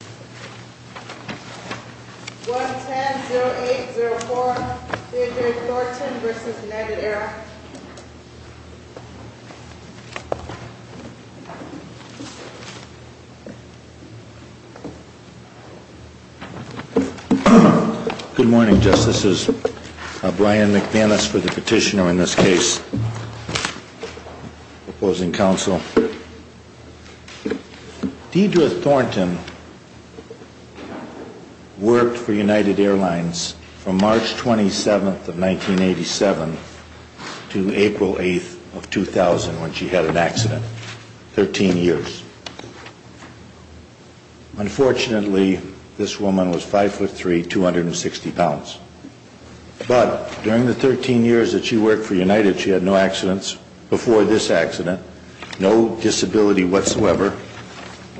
Good morning, Justices. Brian McManus for the Petitioner in this case. Opposing Counsel. Deidre Thornton worked for United Airlines from March 27th of 1987 to April 8th of 2000 when she had an accident. 13 years. Unfortunately, this woman was 5'3", 260 pounds. But during the 13 years that she worked for United, she had no accidents. Before this accident, no disability whatsoever.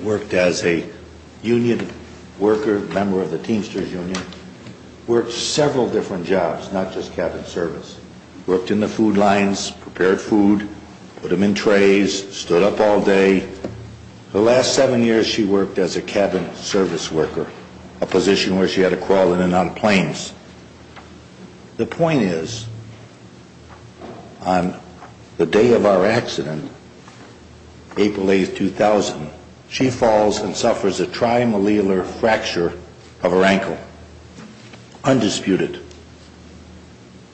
worked as a union worker, member of the Teamsters Union. Worked several different jobs, not just cabin service. Worked in the food lines, prepared food, put them in trays, stood up all day. The last seven years she worked as a cabin service worker, a position where she had to crawl in and out of planes. The point is, on the day of our accident, April 8th, 2000, she falls and suffers a trimalleolar fracture of her ankle. Undisputed.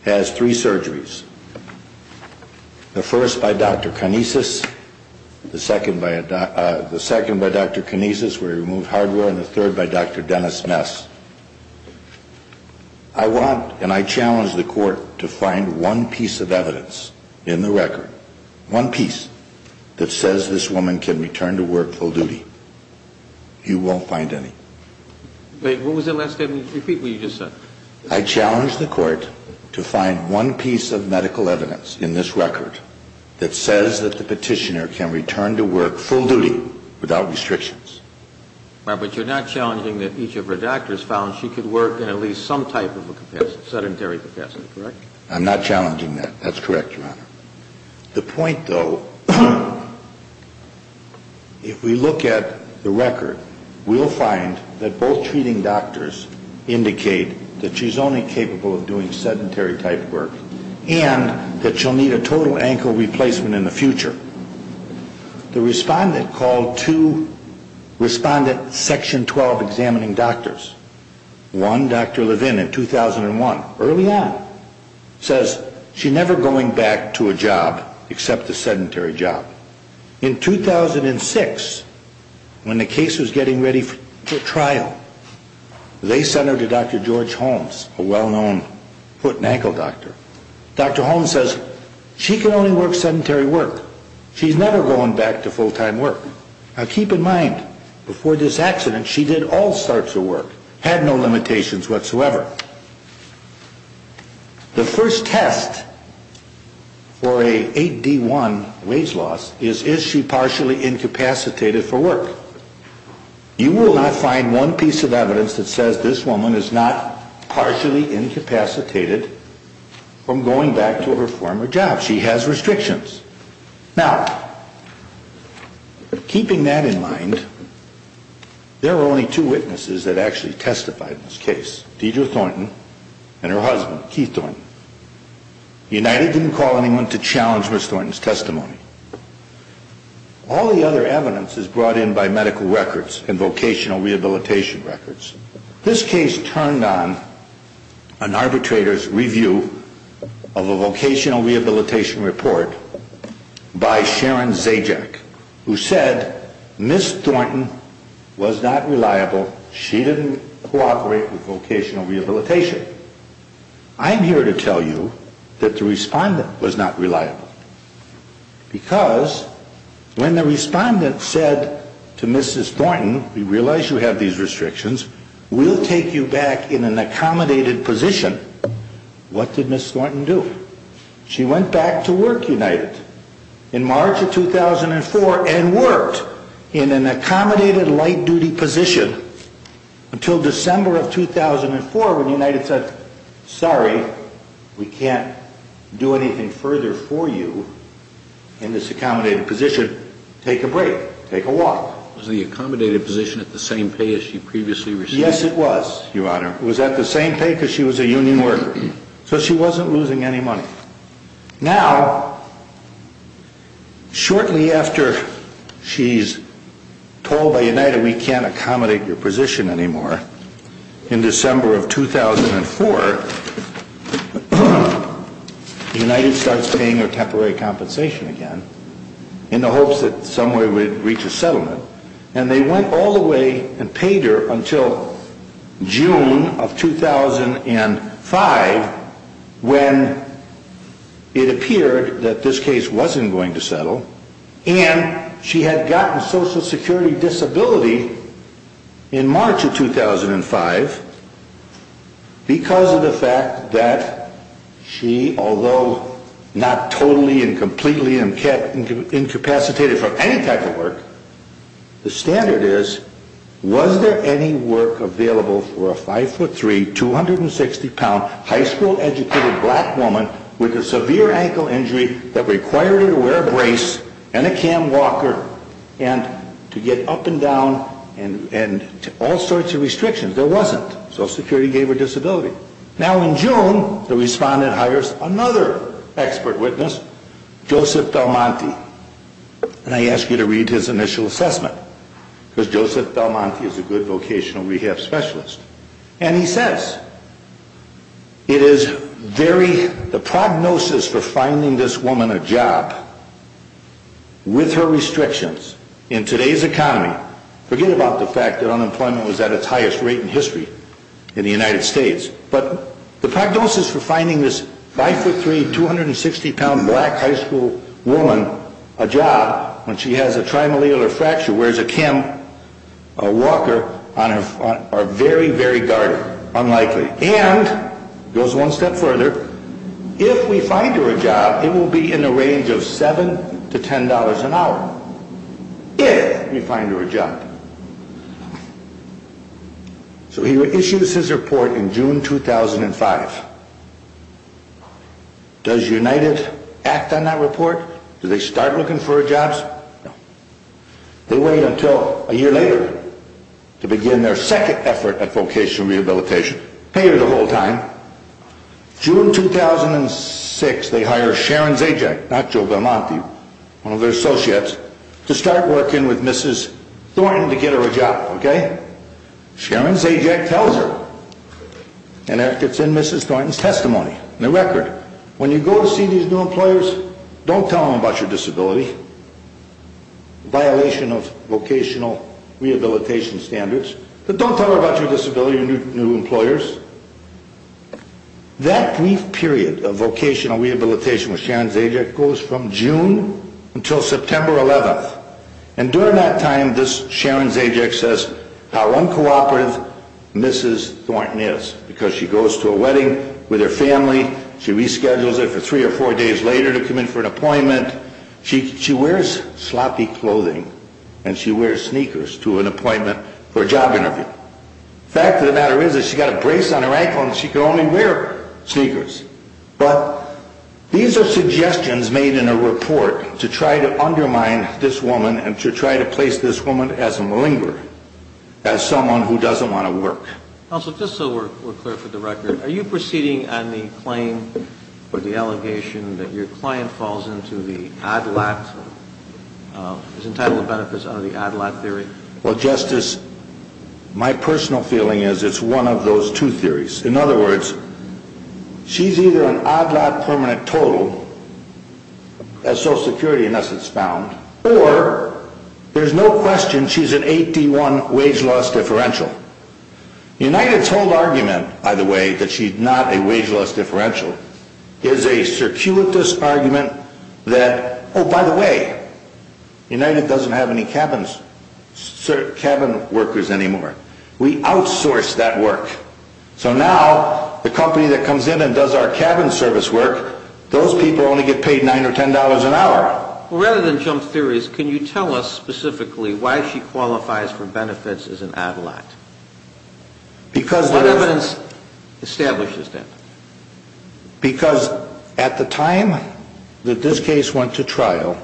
Has three surgeries. The first by Dr. Kinesis, the second by Dr. Kinesis where he removed hardware, and the third by Dr. Dennis Mess. I want and I challenge the court to find one piece of evidence in the record, one piece, that says this woman can return to work full duty. You won't find any. What was the last statement? Repeat what you just said. I challenge the court to find one piece of medical evidence in this record that says that the petitioner can return to work full duty without restrictions. But you're not challenging that each of her doctors found she could work in at least some type of a sedentary capacity, correct? I'm not challenging that. That's correct, Your Honor. The point, though, if we look at the record, we'll find that both treating doctors indicate that she's only capable of doing sedentary type work and that she'll need a total ankle replacement in the future. The respondent called two respondent section 12 examining doctors. One, Dr. Levin, in 2001, early on, says she's never going back to a job except a sedentary job. In 2006, when the case was getting ready for trial, they sent her to Dr. George Holmes, a well-known foot and ankle doctor. Dr. Holmes says she can only work sedentary work. She's never going back to full-time work. Now, keep in mind, before this accident, she did all sorts of work, had no limitations whatsoever. The first test for a 8D1 wage loss is, is she partially incapacitated for work? You will not find one piece of evidence that says this woman is not partially incapacitated from going back to her former job. She has restrictions. Now, keeping that in mind, there are only two witnesses that actually testified in this case, Deidre Thornton and her husband, Keith Thornton. United didn't call anyone to challenge Ms. Thornton's testimony. All the other evidence is brought in by medical records and vocational rehabilitation records. This case turned on an arbitrator's review of a vocational rehabilitation report by Sharon Zajac, who said Ms. Thornton was not reliable, she didn't cooperate with vocational rehabilitation. I'm here to tell you that the respondent was not reliable. Because when the respondent said to Mrs. Thornton, we realize you have these restrictions, we'll take you back in an accommodated position, what did Ms. Thornton do? She went back to work, United, in March of 2004 and worked in an accommodated, light-duty position until December of 2004 when United said, sorry, we can't do anything further for you in this accommodated position. Take a break. Take a walk. Was the accommodated position at the same pay as she previously received? Yes, it was, Your Honor. It was at the same pay because she was a union worker. So she wasn't losing any money. Now, shortly after she's told by United we can't accommodate your position anymore, in December of 2004, United starts paying her temporary compensation again in the hopes that some way we'd reach a settlement. And they went all the way and paid her until June of 2005 when it appeared that this case wasn't going to settle and she had gotten Social Security disability in March of 2005 because of the fact that she, although not totally and completely incapacitated from any type of work, the standard is, was there any work available for a 5'3", 260-pound, high school-educated black woman with a severe ankle injury that required her to wear a brace and a cam walker and to get up and down and all sorts of restrictions? There wasn't. Social Security gave her disability. Now in June, the respondent hires another expert witness, Joseph Belmonte, and I ask you to read his initial assessment because Joseph Belmonte is a good vocational rehab specialist. And he says, it is very, the prognosis for finding this woman a job with her restrictions in today's economy, forget about the fact that unemployment was at its highest rate in history in the United States, but the prognosis for finding this 5'3", 260-pound, black, high school woman a job when she has a trimalleolar fracture, wears a cam, a walker, are very, very dark, unlikely. And, goes one step further, if we find her a job, it will be in the range of $7 to $10 an hour. If we find her a job. So he issues his report in June 2005. Does United act on that report? Do they start looking for jobs? No. They wait until a year later to begin their second effort at vocational rehabilitation. Pay her the whole time. June 2006, they hire Sharon Zajac, not Joseph Belmonte, one of their associates, to start working with Mrs. Thornton to get her a job. Okay? Sharon Zajac tells her. And that gets in Mrs. Thornton's testimony. In the record, when you go to see these new employers, don't tell them about your disability. Violation of vocational rehabilitation standards. But don't tell them about your disability, your new employers. That brief period of vocational rehabilitation with Sharon Zajac goes from June until September 11th. And during that time, Sharon Zajac says how uncooperative Mrs. Thornton is. Because she goes to a wedding with her family, she reschedules it for three or four days later to come in for an appointment. She wears sloppy clothing and she wears sneakers to an appointment for a job interview. The fact of the matter is that she's got a brace on her ankle and she can only wear sneakers. But these are suggestions made in a report to try to undermine this woman and to try to place this woman as a malinger, as someone who doesn't want to work. Counsel, just so we're clear for the record, are you proceeding on the claim or the allegation that your client falls into the ADLAT, is entitled benefits under the ADLAT theory? Well, Justice, my personal feeling is it's one of those two theories. In other words, she's either an ADLAT permanent total, as Social Security in essence found, or there's no question she's an 8D1 wage loss differential. United's whole argument, by the way, that she's not a wage loss differential, is a circuitous argument that, oh, by the way, United doesn't have any cabin workers anymore. We outsource that work. So now the company that comes in and does our cabin service work, those people only get paid $9 or $10 an hour. Well, rather than jump theories, can you tell us specifically why she qualifies for benefits as an ADLAT? What evidence establishes that? Because at the time that this case went to trial,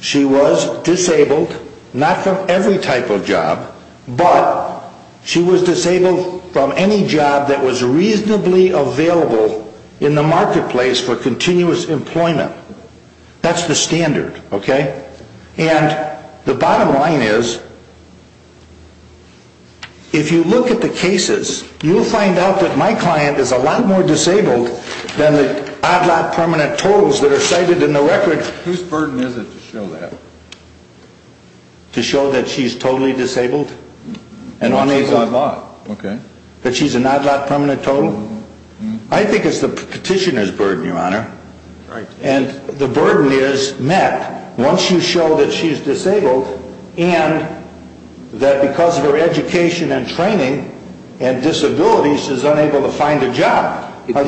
she was disabled, not from every type of job, but she was disabled from any job that was reasonably available in the marketplace for continuous employment. That's the standard, okay? And the bottom line is, if you look at the cases, you'll find out that my client is a lot more disabled than the ADLAT permanent totals that are cited in the record. Whose burden is it to show that? To show that she's totally disabled? That she's ADLAT, okay. That she's an ADLAT permanent total? I think it's the petitioner's burden, Your Honor. Right. And the burden is, Matt, once you show that she's disabled and that because of her education and training and disabilities, she's unable to find a job. Where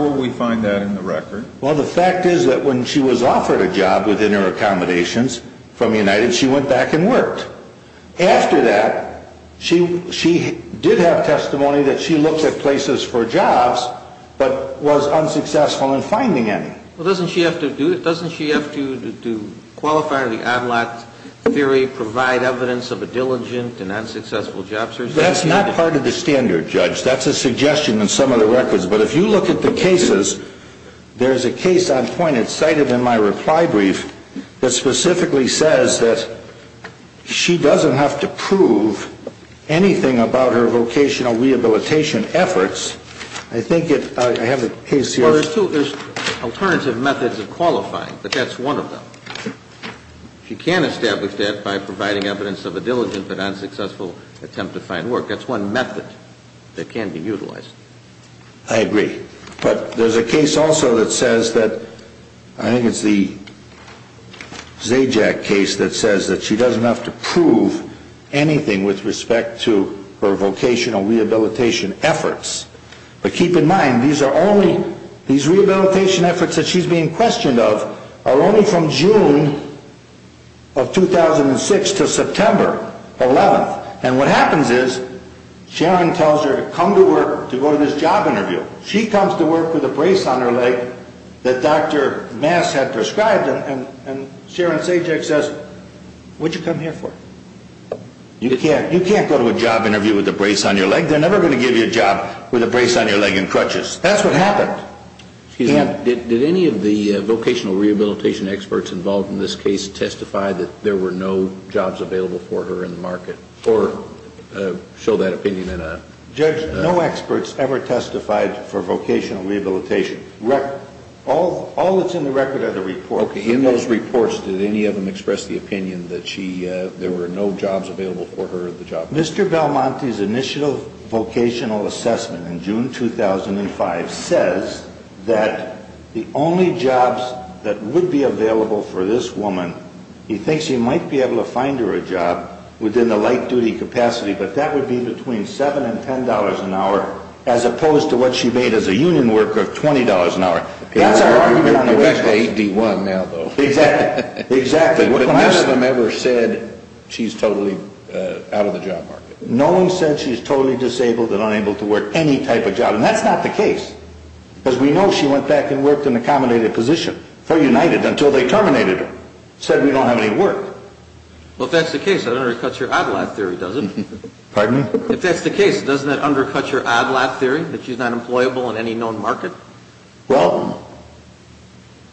will we find that in the record? Well, the fact is that when she was offered a job within her accommodations from United, she went back and worked. After that, she did have testimony that she looked at places for jobs, but was unsuccessful in finding any. Well, doesn't she have to qualify under the ADLAT theory, provide evidence of a diligent and unsuccessful job search? That's not part of the standard, Judge. That's a suggestion in some of the records. But if you look at the cases, there's a case on point. It's cited in my reply brief that specifically says that she doesn't have to prove anything about her vocational rehabilitation efforts. I think I have the case here. Well, there's two. There's alternative methods of qualifying, but that's one of them. She can establish that by providing evidence of a diligent but unsuccessful attempt to find work. That's one method that can be utilized. I agree. But there's a case also that says that – I think it's the Zajac case that says that she doesn't have to prove anything with respect to her vocational rehabilitation efforts. But keep in mind, these rehabilitation efforts that she's being questioned of are only from June of 2006 to September 11th. And what happens is Sharon tells her to come to work to go to this job interview. She comes to work with a brace on her leg that Dr. Mass had prescribed, and Sharon Zajac says, what did you come here for? You can't go to a job interview with a brace on your leg. They're never going to give you a job with a brace on your leg and crutches. That's what happened. Did any of the vocational rehabilitation experts involved in this case testify that there were no jobs available for her in the market or show that opinion in a – Judge, no experts ever testified for vocational rehabilitation. All that's in the record are the reports. Okay. In those reports, did any of them express the opinion that she – there were no jobs available for her at the job interview? Mr. Belmonte's initial vocational assessment in June 2005 says that the only jobs that would be available for this woman – he thinks he might be able to find her a job within the light-duty capacity, but that would be between $7 and $10 an hour, as opposed to what she made as a union worker of $20 an hour. That's our argument. You're back to 8D1 now, though. Exactly. Exactly. But none of them ever said she's totally out of the job market. No one said she's totally disabled and unable to work any type of job. And that's not the case. Because we know she went back and worked in the accommodated position for United until they terminated her. Said we don't have any work. Well, if that's the case, that undercuts your odd lot theory, does it? Pardon me? If that's the case, doesn't that undercut your odd lot theory, that she's not employable in any known market? Well,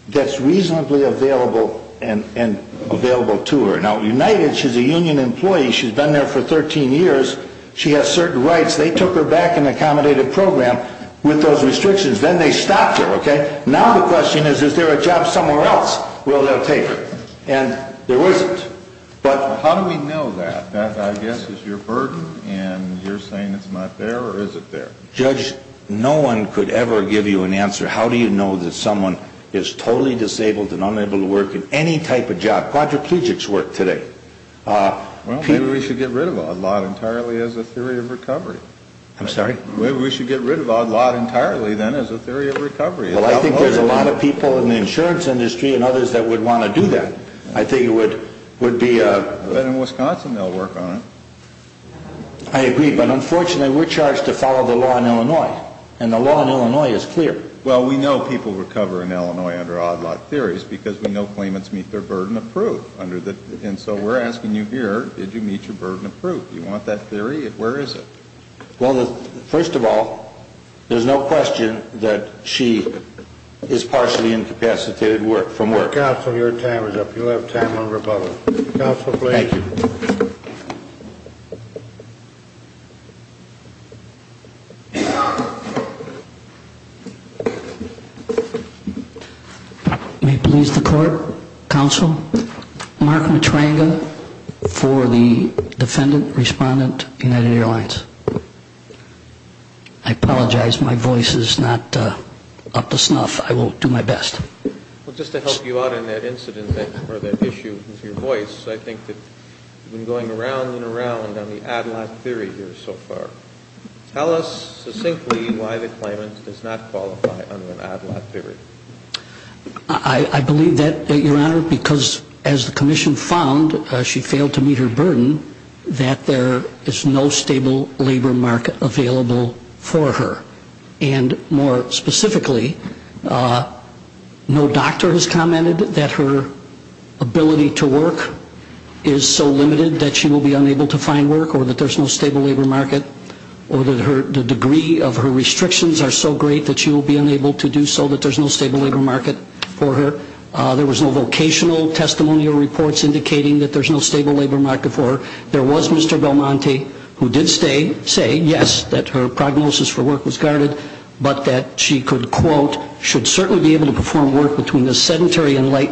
that's reasonably available to her. Now, United, she's a union employee. She's been there for 13 years. She has certain rights. They took her back in the accommodated program with those restrictions. Then they stopped her, okay? Now the question is, is there a job somewhere else where they'll take her? And there isn't. But how do we know that? That, I guess, is your burden, and you're saying it's not there, or is it there? Judge, no one could ever give you an answer. How do you know that someone is totally disabled and unable to work in any type of job? Quadriplegics work today. Well, maybe we should get rid of odd lot entirely as a theory of recovery. I'm sorry? Maybe we should get rid of odd lot entirely, then, as a theory of recovery. Well, I think there's a lot of people in the insurance industry and others that would want to do that. I think it would be a... I bet in Wisconsin they'll work on it. I agree. But, unfortunately, we're charged to follow the law in Illinois, and the law in Illinois is clear. Well, we know people recover in Illinois under odd lot theories because we know claimants meet their burden of proof. And so we're asking you here, did you meet your burden of proof? You want that theory? Where is it? Well, first of all, there's no question that she is partially incapacitated from work. Counsel, your time is up. You'll have time on rebuttal. Counsel, please. Thank you. May it please the Court, Counsel, Mark Matranga for the defendant, respondent, United Airlines. I apologize my voice is not up to snuff. I will do my best. Well, just to help you out on that incident or that issue with your voice, I think that you've been going around and around on the odd lot theory here so far. Tell us succinctly why the claimant does not qualify under an odd lot theory. I believe that, Your Honor, because as the commission found, she failed to meet her burden, that there is no stable labor market available for her. And more specifically, no doctor has commented that her ability to work is so limited that she will be unable to find work or that there's no stable labor market or that the degree of her restrictions are so great that she will be unable to do so, that there's no stable labor market for her. There was no vocational testimonial reports indicating that there's no stable labor market for her. There was Mr. Belmonte who did say, yes, that her prognosis for work was guarded, but that she could, quote, should certainly be able to perform work between the sedentary and light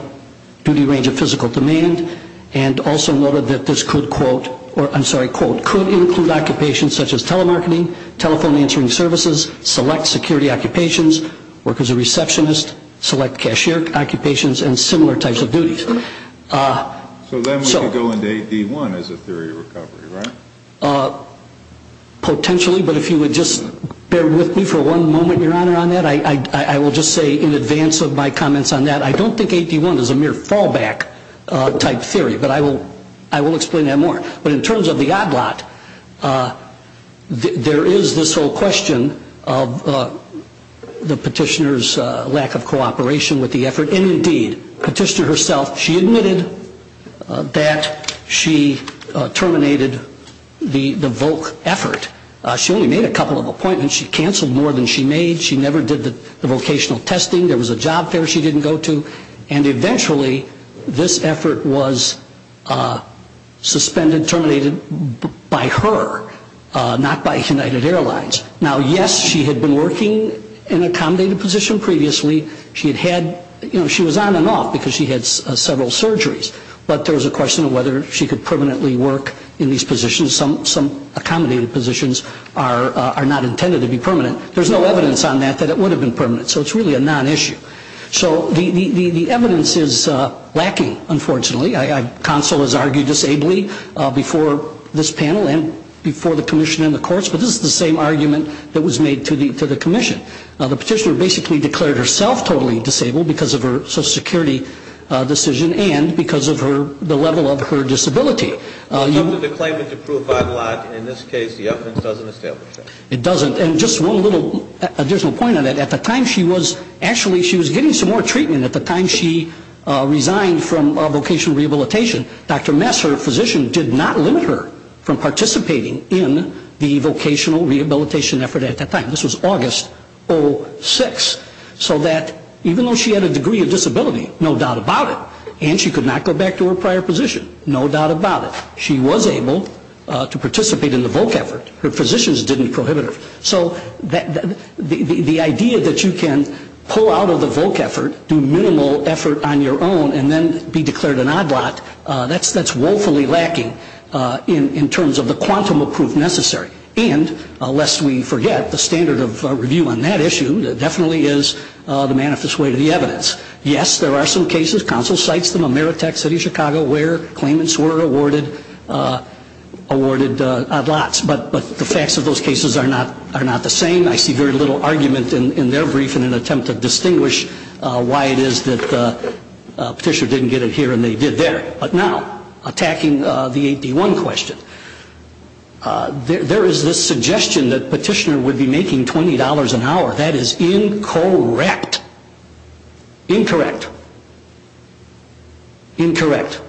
duty range of physical demand, and also noted that this could, quote, or I'm sorry, quote, could include occupations such as telemarketing, telephone answering services, select security occupations, work as a receptionist, select cashier occupations, and similar types of duties. So then we could go into 8D1 as a theory of recovery, right? Potentially, but if you would just bear with me for one moment, Your Honor, on that, I will just say in advance of my comments on that, I don't think 8D1 is a mere fallback type theory, but I will explain that more. But in terms of the odd lot, there is this whole question of the petitioner's lack of cooperation with the effort, and indeed, the petitioner herself, she admitted that she terminated the VOC effort. She only made a couple of appointments. She canceled more than she made. She never did the vocational testing. There was a job fair she didn't go to. And eventually, this effort was suspended, terminated by her, not by United Airlines. Now, yes, she had been working in an accommodated position previously. She was on and off because she had several surgeries, but there was a question of whether she could permanently work in these positions. Some accommodated positions are not intended to be permanent. There's no evidence on that that it would have been permanent, so it's really a non-issue. So the evidence is lacking, unfortunately. Counsel has argued this ably before this panel and before the commission and the courts, but this is the same argument that was made to the commission. Now, the petitioner basically declared herself totally disabled because of her Social Security decision and because of the level of her disability. It's up to the claimant to prove by the law. In this case, the evidence doesn't establish that. It doesn't. And just one little additional point on that. At the time, she was actually getting some more treatment. At the time, she resigned from vocational rehabilitation. Dr. Mess, her physician, did not limit her from participating in the vocational rehabilitation effort at that time. This was August 06. So that even though she had a degree of disability, no doubt about it, and she could not go back to her prior position, no doubt about it, she was able to participate in the voc effort. Her physicians didn't prohibit her. So the idea that you can pull out of the voc effort, do minimal effort on your own, and then be declared an odd lot, that's woefully lacking in terms of the quantum of proof necessary. And, lest we forget, the standard of review on that issue definitely is the manifest way to the evidence. Yes, there are some cases. Counsel cites them. Ameritech, City of Chicago, where claimants were awarded odd lots. But the facts of those cases are not the same. I see very little argument in their brief in an attempt to distinguish why it is that the petitioner didn't get it here and they did there. But now, attacking the AP1 question, there is this suggestion that petitioner would be making $20 an hour. That is incorrect. Incorrect. Incorrect.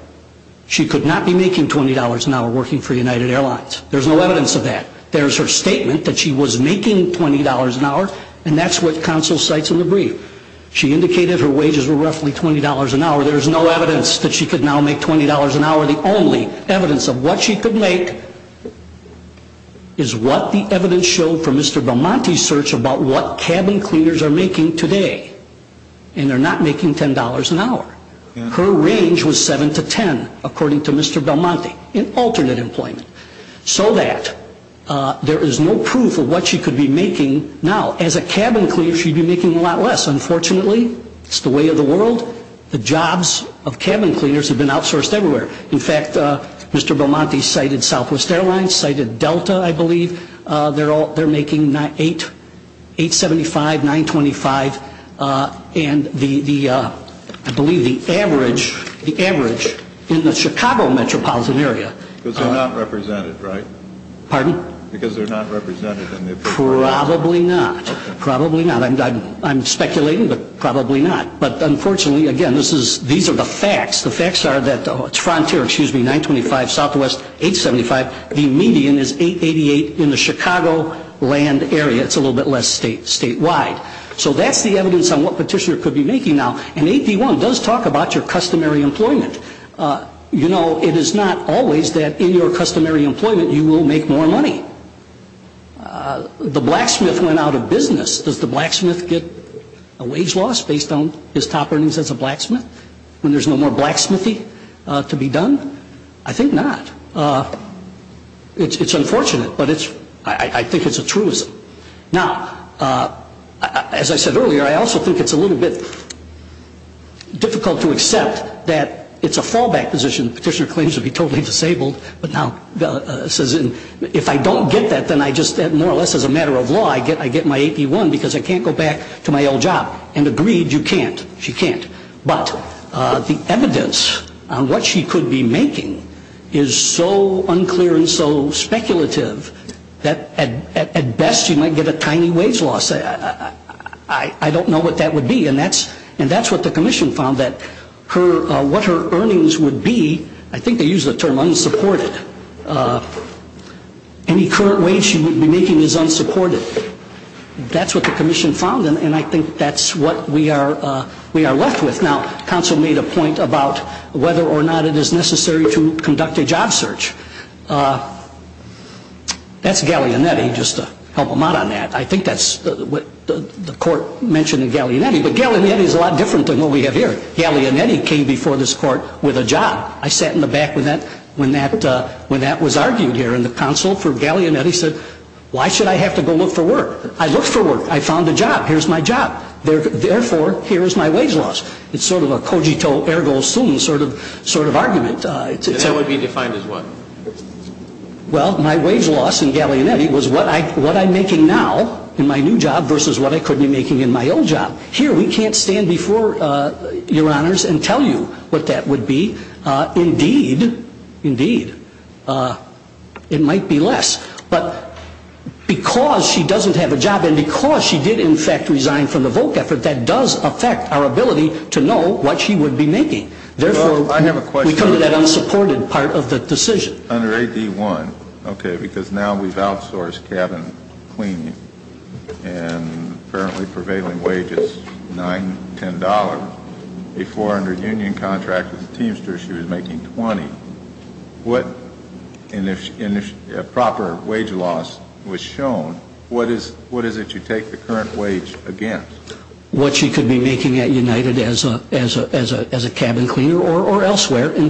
She could not be making $20 an hour working for United Airlines. There's no evidence of that. There's her statement that she was making $20 an hour, and that's what counsel cites in the brief. She indicated her wages were roughly $20 an hour. There's no evidence that she could now make $20 an hour. The only evidence of what she could make is what the evidence showed from Mr. Belmonte's search about what cabin cleaners are making today. And they're not making $10 an hour. Her range was 7 to 10, according to Mr. Belmonte, in alternate employment. So that there is no proof of what she could be making now. As a cabin cleaner, she'd be making a lot less. Unfortunately, it's the way of the world. The jobs of cabin cleaners have been outsourced everywhere. In fact, Mr. Belmonte cited Southwest Airlines, cited Delta, I believe. They're making $8.75, $9.25, and the, I believe, the average in the Chicago metropolitan area. Because they're not represented, right? Pardon? Because they're not represented. Probably not. Probably not. I'm speculating, but probably not. But unfortunately, again, these are the facts. The facts are that Frontier, excuse me, $9.25, Southwest $8.75. The median is $8.88 in the Chicago land area. It's a little bit less statewide. So that's the evidence on what Petitioner could be making now. And 8D1 does talk about your customary employment. You know, it is not always that in your customary employment you will make more money. The blacksmith went out of business. Does the blacksmith get a wage loss based on his top earnings as a blacksmith when there's no more blacksmithy to be done? I think not. It's unfortunate, but I think it's a truism. Now, as I said earlier, I also think it's a little bit difficult to accept that it's a fallback position. Petitioner claims to be totally disabled, but now says if I don't get that, then I just, more or less as a matter of law, I get my 8D1 because I can't go back to my old job. And agreed, you can't. She can't. But the evidence on what she could be making is so unclear and so speculative that at best you might get a tiny wage loss. I don't know what that would be. And that's what the commission found, that what her earnings would be, I think they use the term unsupported. Any current wage she would be making is unsupported. That's what the commission found, and I think that's what we are left with. Now, counsel made a point about whether or not it is necessary to conduct a job search. That's Gallianetti, just to help him out on that. I think that's what the court mentioned in Gallianetti, but Gallianetti is a lot different than what we have here. Gallianetti came before this court with a job. I sat in the back when that was argued here, and the counsel for Gallianetti said, why should I have to go look for work? I looked for work. I found a job. Here's my job. Therefore, here is my wage loss. It's sort of a cogito ergo sum sort of argument. And that would be defined as what? Well, my wage loss in Gallianetti was what I'm making now in my new job versus what I could be making in my old job. Here, we can't stand before Your Honors and tell you what that would be. Indeed, indeed, it might be less. But because she doesn't have a job and because she did, in fact, resign from the Volk effort, that does affect our ability to know what she would be making. Therefore, we come to that unsupported part of the decision. Under AD-1, okay, because now we've outsourced cabin cleaning and apparently prevailing wage is $9, $10. Before, under union contract as a teamster, she was making $20. And if proper wage loss was shown, what is it you take the current wage against? What she could be making at United as a cabin cleaner or elsewhere. So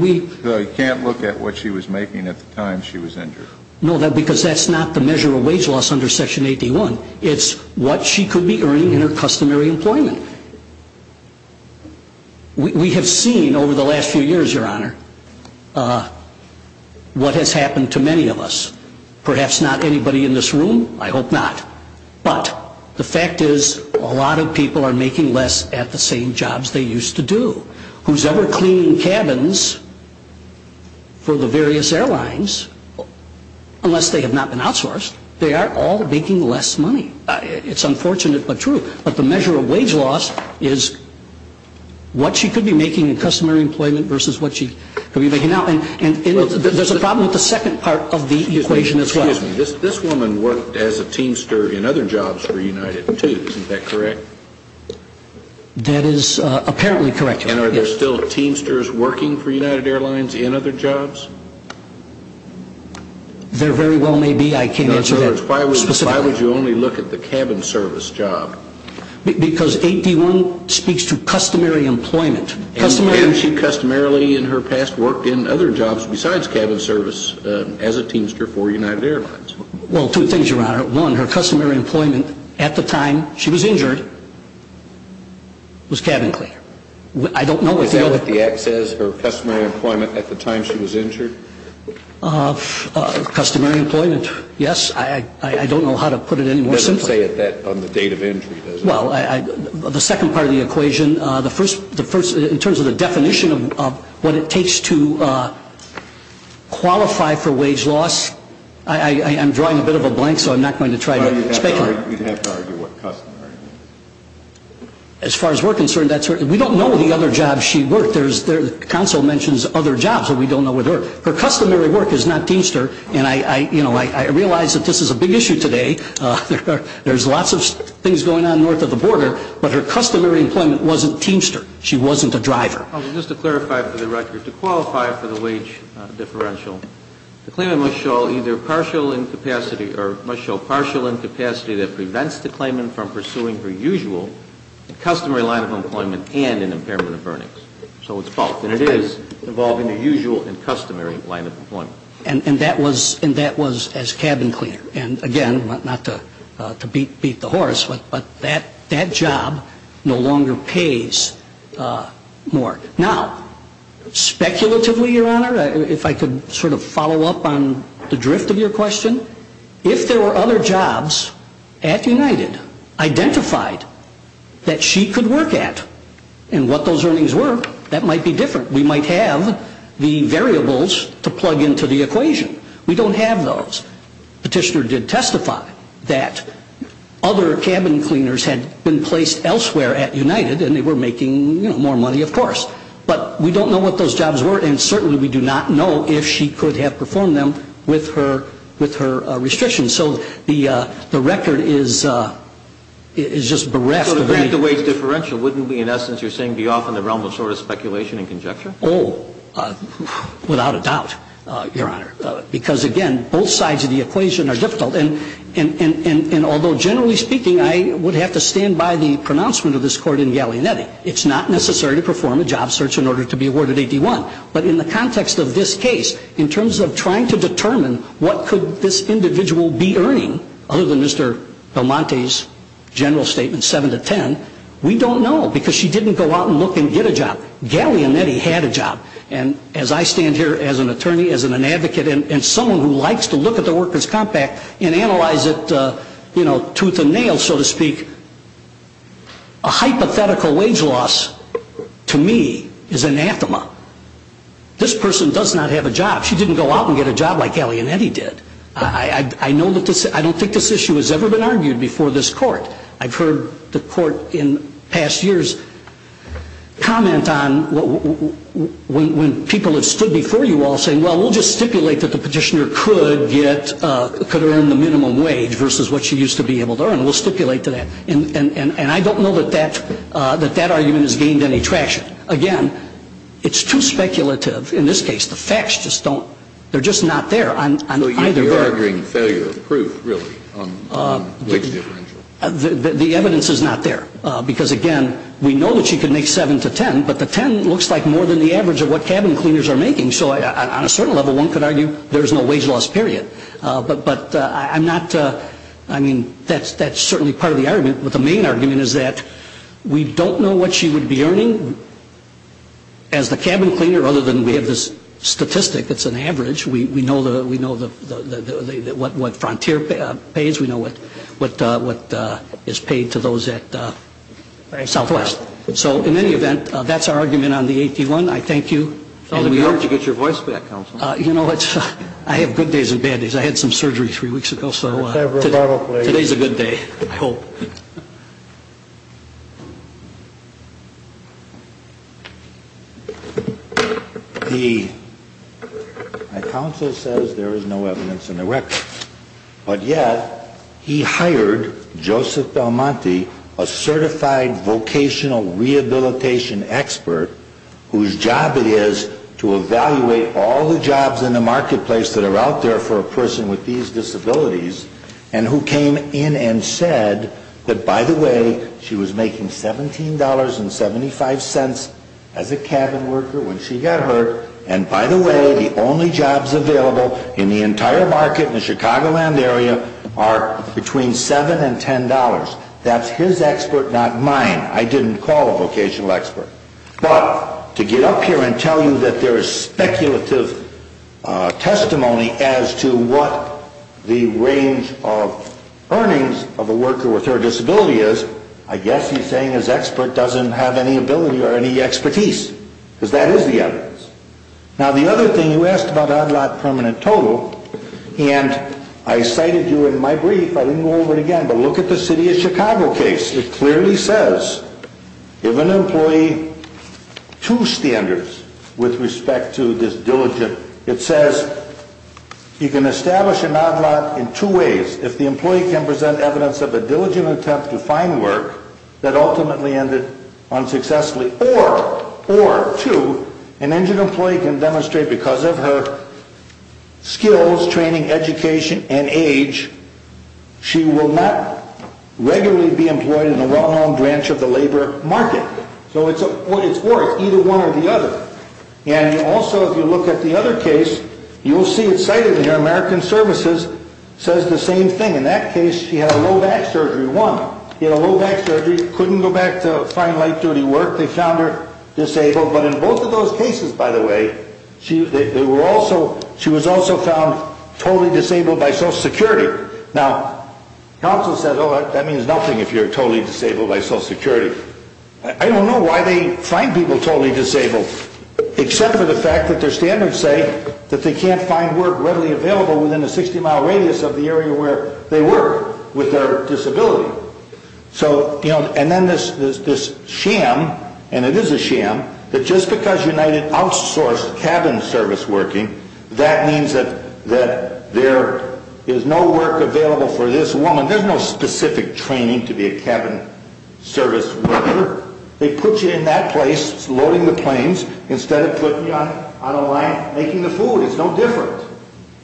you can't look at what she was making at the time she was injured? No, because that's not the measure of wage loss under Section AD-1. It's what she could be earning in her customary employment. We have seen over the last few years, Your Honor, what has happened to many of us. Perhaps not anybody in this room. I hope not. But the fact is a lot of people are making less at the same jobs they used to do. Whosever cleaning cabins for the various airlines, unless they have not been outsourced, they are all making less money. It's unfortunate but true. But the measure of wage loss is what she could be making in customary employment versus what she could be making now. And there's a problem with the second part of the equation as well. Excuse me. This woman worked as a teamster in other jobs for United, too. Isn't that correct? That is apparently correct, Your Honor. And are there still teamsters working for United Airlines in other jobs? There very well may be. I can't answer that specifically. In other words, why would you only look at the cabin service job? Because AD-1 speaks to customary employment. And has she customarily in her past worked in other jobs besides cabin service Well, two things, Your Honor. One, her customary employment at the time she was injured was cabin cleaner. Is that what the Act says, her customary employment at the time she was injured? Customary employment, yes. I don't know how to put it any more simply. It doesn't say that on the date of entry, does it? Well, the second part of the equation, in terms of the definition of what it takes to qualify for wage loss, I'm drawing a bit of a blank, so I'm not going to try to speculate. You'd have to argue what customary means. As far as we're concerned, we don't know the other jobs she worked. The counsel mentions other jobs, but we don't know what they were. Her customary work is not teamster, and I realize that this is a big issue today. There's lots of things going on north of the border, but her customary employment wasn't teamster. She wasn't a driver. Just to clarify for the record, to qualify for the wage differential, the claimant must show either partial incapacity or must show partial incapacity that prevents the claimant from pursuing her usual customary line of employment and an impairment of earnings. So it's both. And it is involving her usual and customary line of employment. And that was as cabin cleaner. And, again, not to beat the horse, but that job no longer pays more. Now, speculatively, Your Honor, if I could sort of follow up on the drift of your question, if there were other jobs at United identified that she could work at and what those earnings were, that might be different. We might have the variables to plug into the equation. We don't have those. Petitioner did testify that other cabin cleaners had been placed elsewhere at United, and they were making more money, of course. But we don't know what those jobs were, and certainly we do not know if she could have performed them with her restrictions. So the record is just bereft of any ---- So to break the wage differential, wouldn't we, in essence, you're saying, be off in the realm of sort of speculation and conjecture? Oh, without a doubt, Your Honor, because, again, both sides of the equation are difficult. And although, generally speaking, I would have to stand by the pronouncement of this court in Gallianetti, it's not necessary to perform a job search in order to be awarded a D-1. But in the context of this case, in terms of trying to determine what could this individual be earning, other than Mr. Belmonte's general statement, 7 to 10, we don't know, because she didn't go out and look and get a job. Gallianetti had a job. And as I stand here as an attorney, as an advocate, and someone who likes to look at the workers' compact and analyze it, you know, tooth and nail, so to speak, a hypothetical wage loss, to me, is anathema. This person does not have a job. She didn't go out and get a job like Gallianetti did. I don't think this issue has ever been argued before this court. I've heard the court in past years comment on, when people have stood before you all, well, we'll just stipulate that the Petitioner could get, could earn the minimum wage, versus what she used to be able to earn. We'll stipulate to that. And I don't know that that argument has gained any traction. Again, it's too speculative in this case. The facts just don't, they're just not there on either. So you're arguing failure of proof, really, on wage differential? The evidence is not there. Because, again, we know that she could make 7 to 10, but the 10 looks like more than the average of what cabin cleaners are making. So on a certain level, one could argue there's no wage loss, period. But I'm not, I mean, that's certainly part of the argument. But the main argument is that we don't know what she would be earning as the cabin cleaner, other than we have this statistic that's an average. We know what Frontier pays. We know what is paid to those at Southwest. So in any event, that's our argument on the AP1. I thank you. It's always a good idea to get your voice back, Counsel. You know, I have good days and bad days. I had some surgery three weeks ago, so today's a good day, I hope. The counsel says there is no evidence in the record. But yet, he hired Joseph Del Monte, a certified vocational rehabilitation expert, whose job it is to evaluate all the jobs in the marketplace that are out there for a person with these disabilities, and who came in and said that, by the way, she was making $17.75 as a cabin worker when she got hurt, and, by the way, the only jobs available in the entire market in the Chicagoland area are between $7 and $10. That's his expert, not mine. I didn't call a vocational expert. But to get up here and tell you that there is speculative testimony as to what the range of earnings of a worker with her disability is, I guess he's saying his expert doesn't have any ability or any expertise, because that is the evidence. Now, the other thing, you asked about odd lot permanent total, and I cited you in my brief. I didn't go over it again, but look at the city of Chicago case. It clearly says, if an employee, two standards with respect to this diligent, it says, you can establish an odd lot in two ways. If the employee can present evidence of a diligent attempt to find work that ultimately ended unsuccessfully or, two, an injured employee can demonstrate because of her skills, training, education, and age, she will not regularly be employed in the well-known branch of the labor market. So it's worth either one or the other. And also, if you look at the other case, you'll see it cited here. American Services says the same thing. In that case, she had a low back surgery, one. She had a low back surgery, couldn't go back to find light-duty work. They found her disabled. But in both of those cases, by the way, she was also found totally disabled by Social Security. Now, counsel said, oh, that means nothing if you're totally disabled by Social Security. I don't know why they find people totally disabled except for the fact that their standards say that they can't find work readily available within a 60-mile radius of the area where they work with their disability. And then this sham, and it is a sham, that just because United outsourced cabin service working, that means that there is no work available for this woman. There's no specific training to be a cabin service worker. They put you in that place loading the planes instead of putting you on a line making the food. It's no different.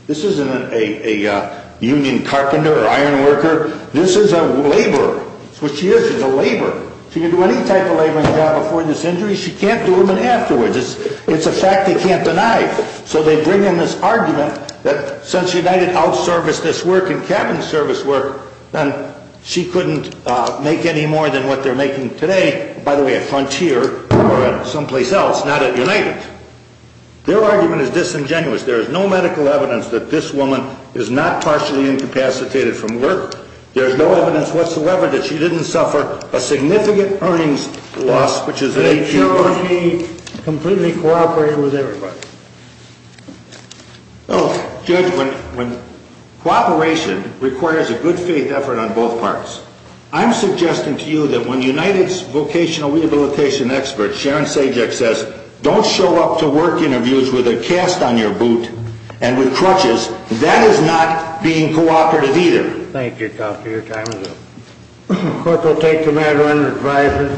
This isn't a union carpenter or iron worker. This is a laborer. It's what she is. She's a laborer. She can do any type of laboring job before this injury. She can't do them afterwards. It's a fact they can't deny. So they bring in this argument that since United outserviced this work in cabin service work, then she couldn't make any more than what they're making today, by the way, at Frontier or someplace else, not at United. Their argument is disingenuous. There is no medical evidence that this woman is not partially incapacitated from work. There is no evidence whatsoever that she didn't suffer a significant earnings loss, which is a huge one. They showed she completely cooperated with everybody. Well, Judge, when cooperation requires a good faith effort on both parts, I'm suggesting to you that when United's vocational rehabilitation expert, Sharon Sajak, says, don't show up to work interviews with a cast on your boot and with crutches, that is not being cooperative either. Thank you, Counselor. Your time is up. Court will take the matter under advisory.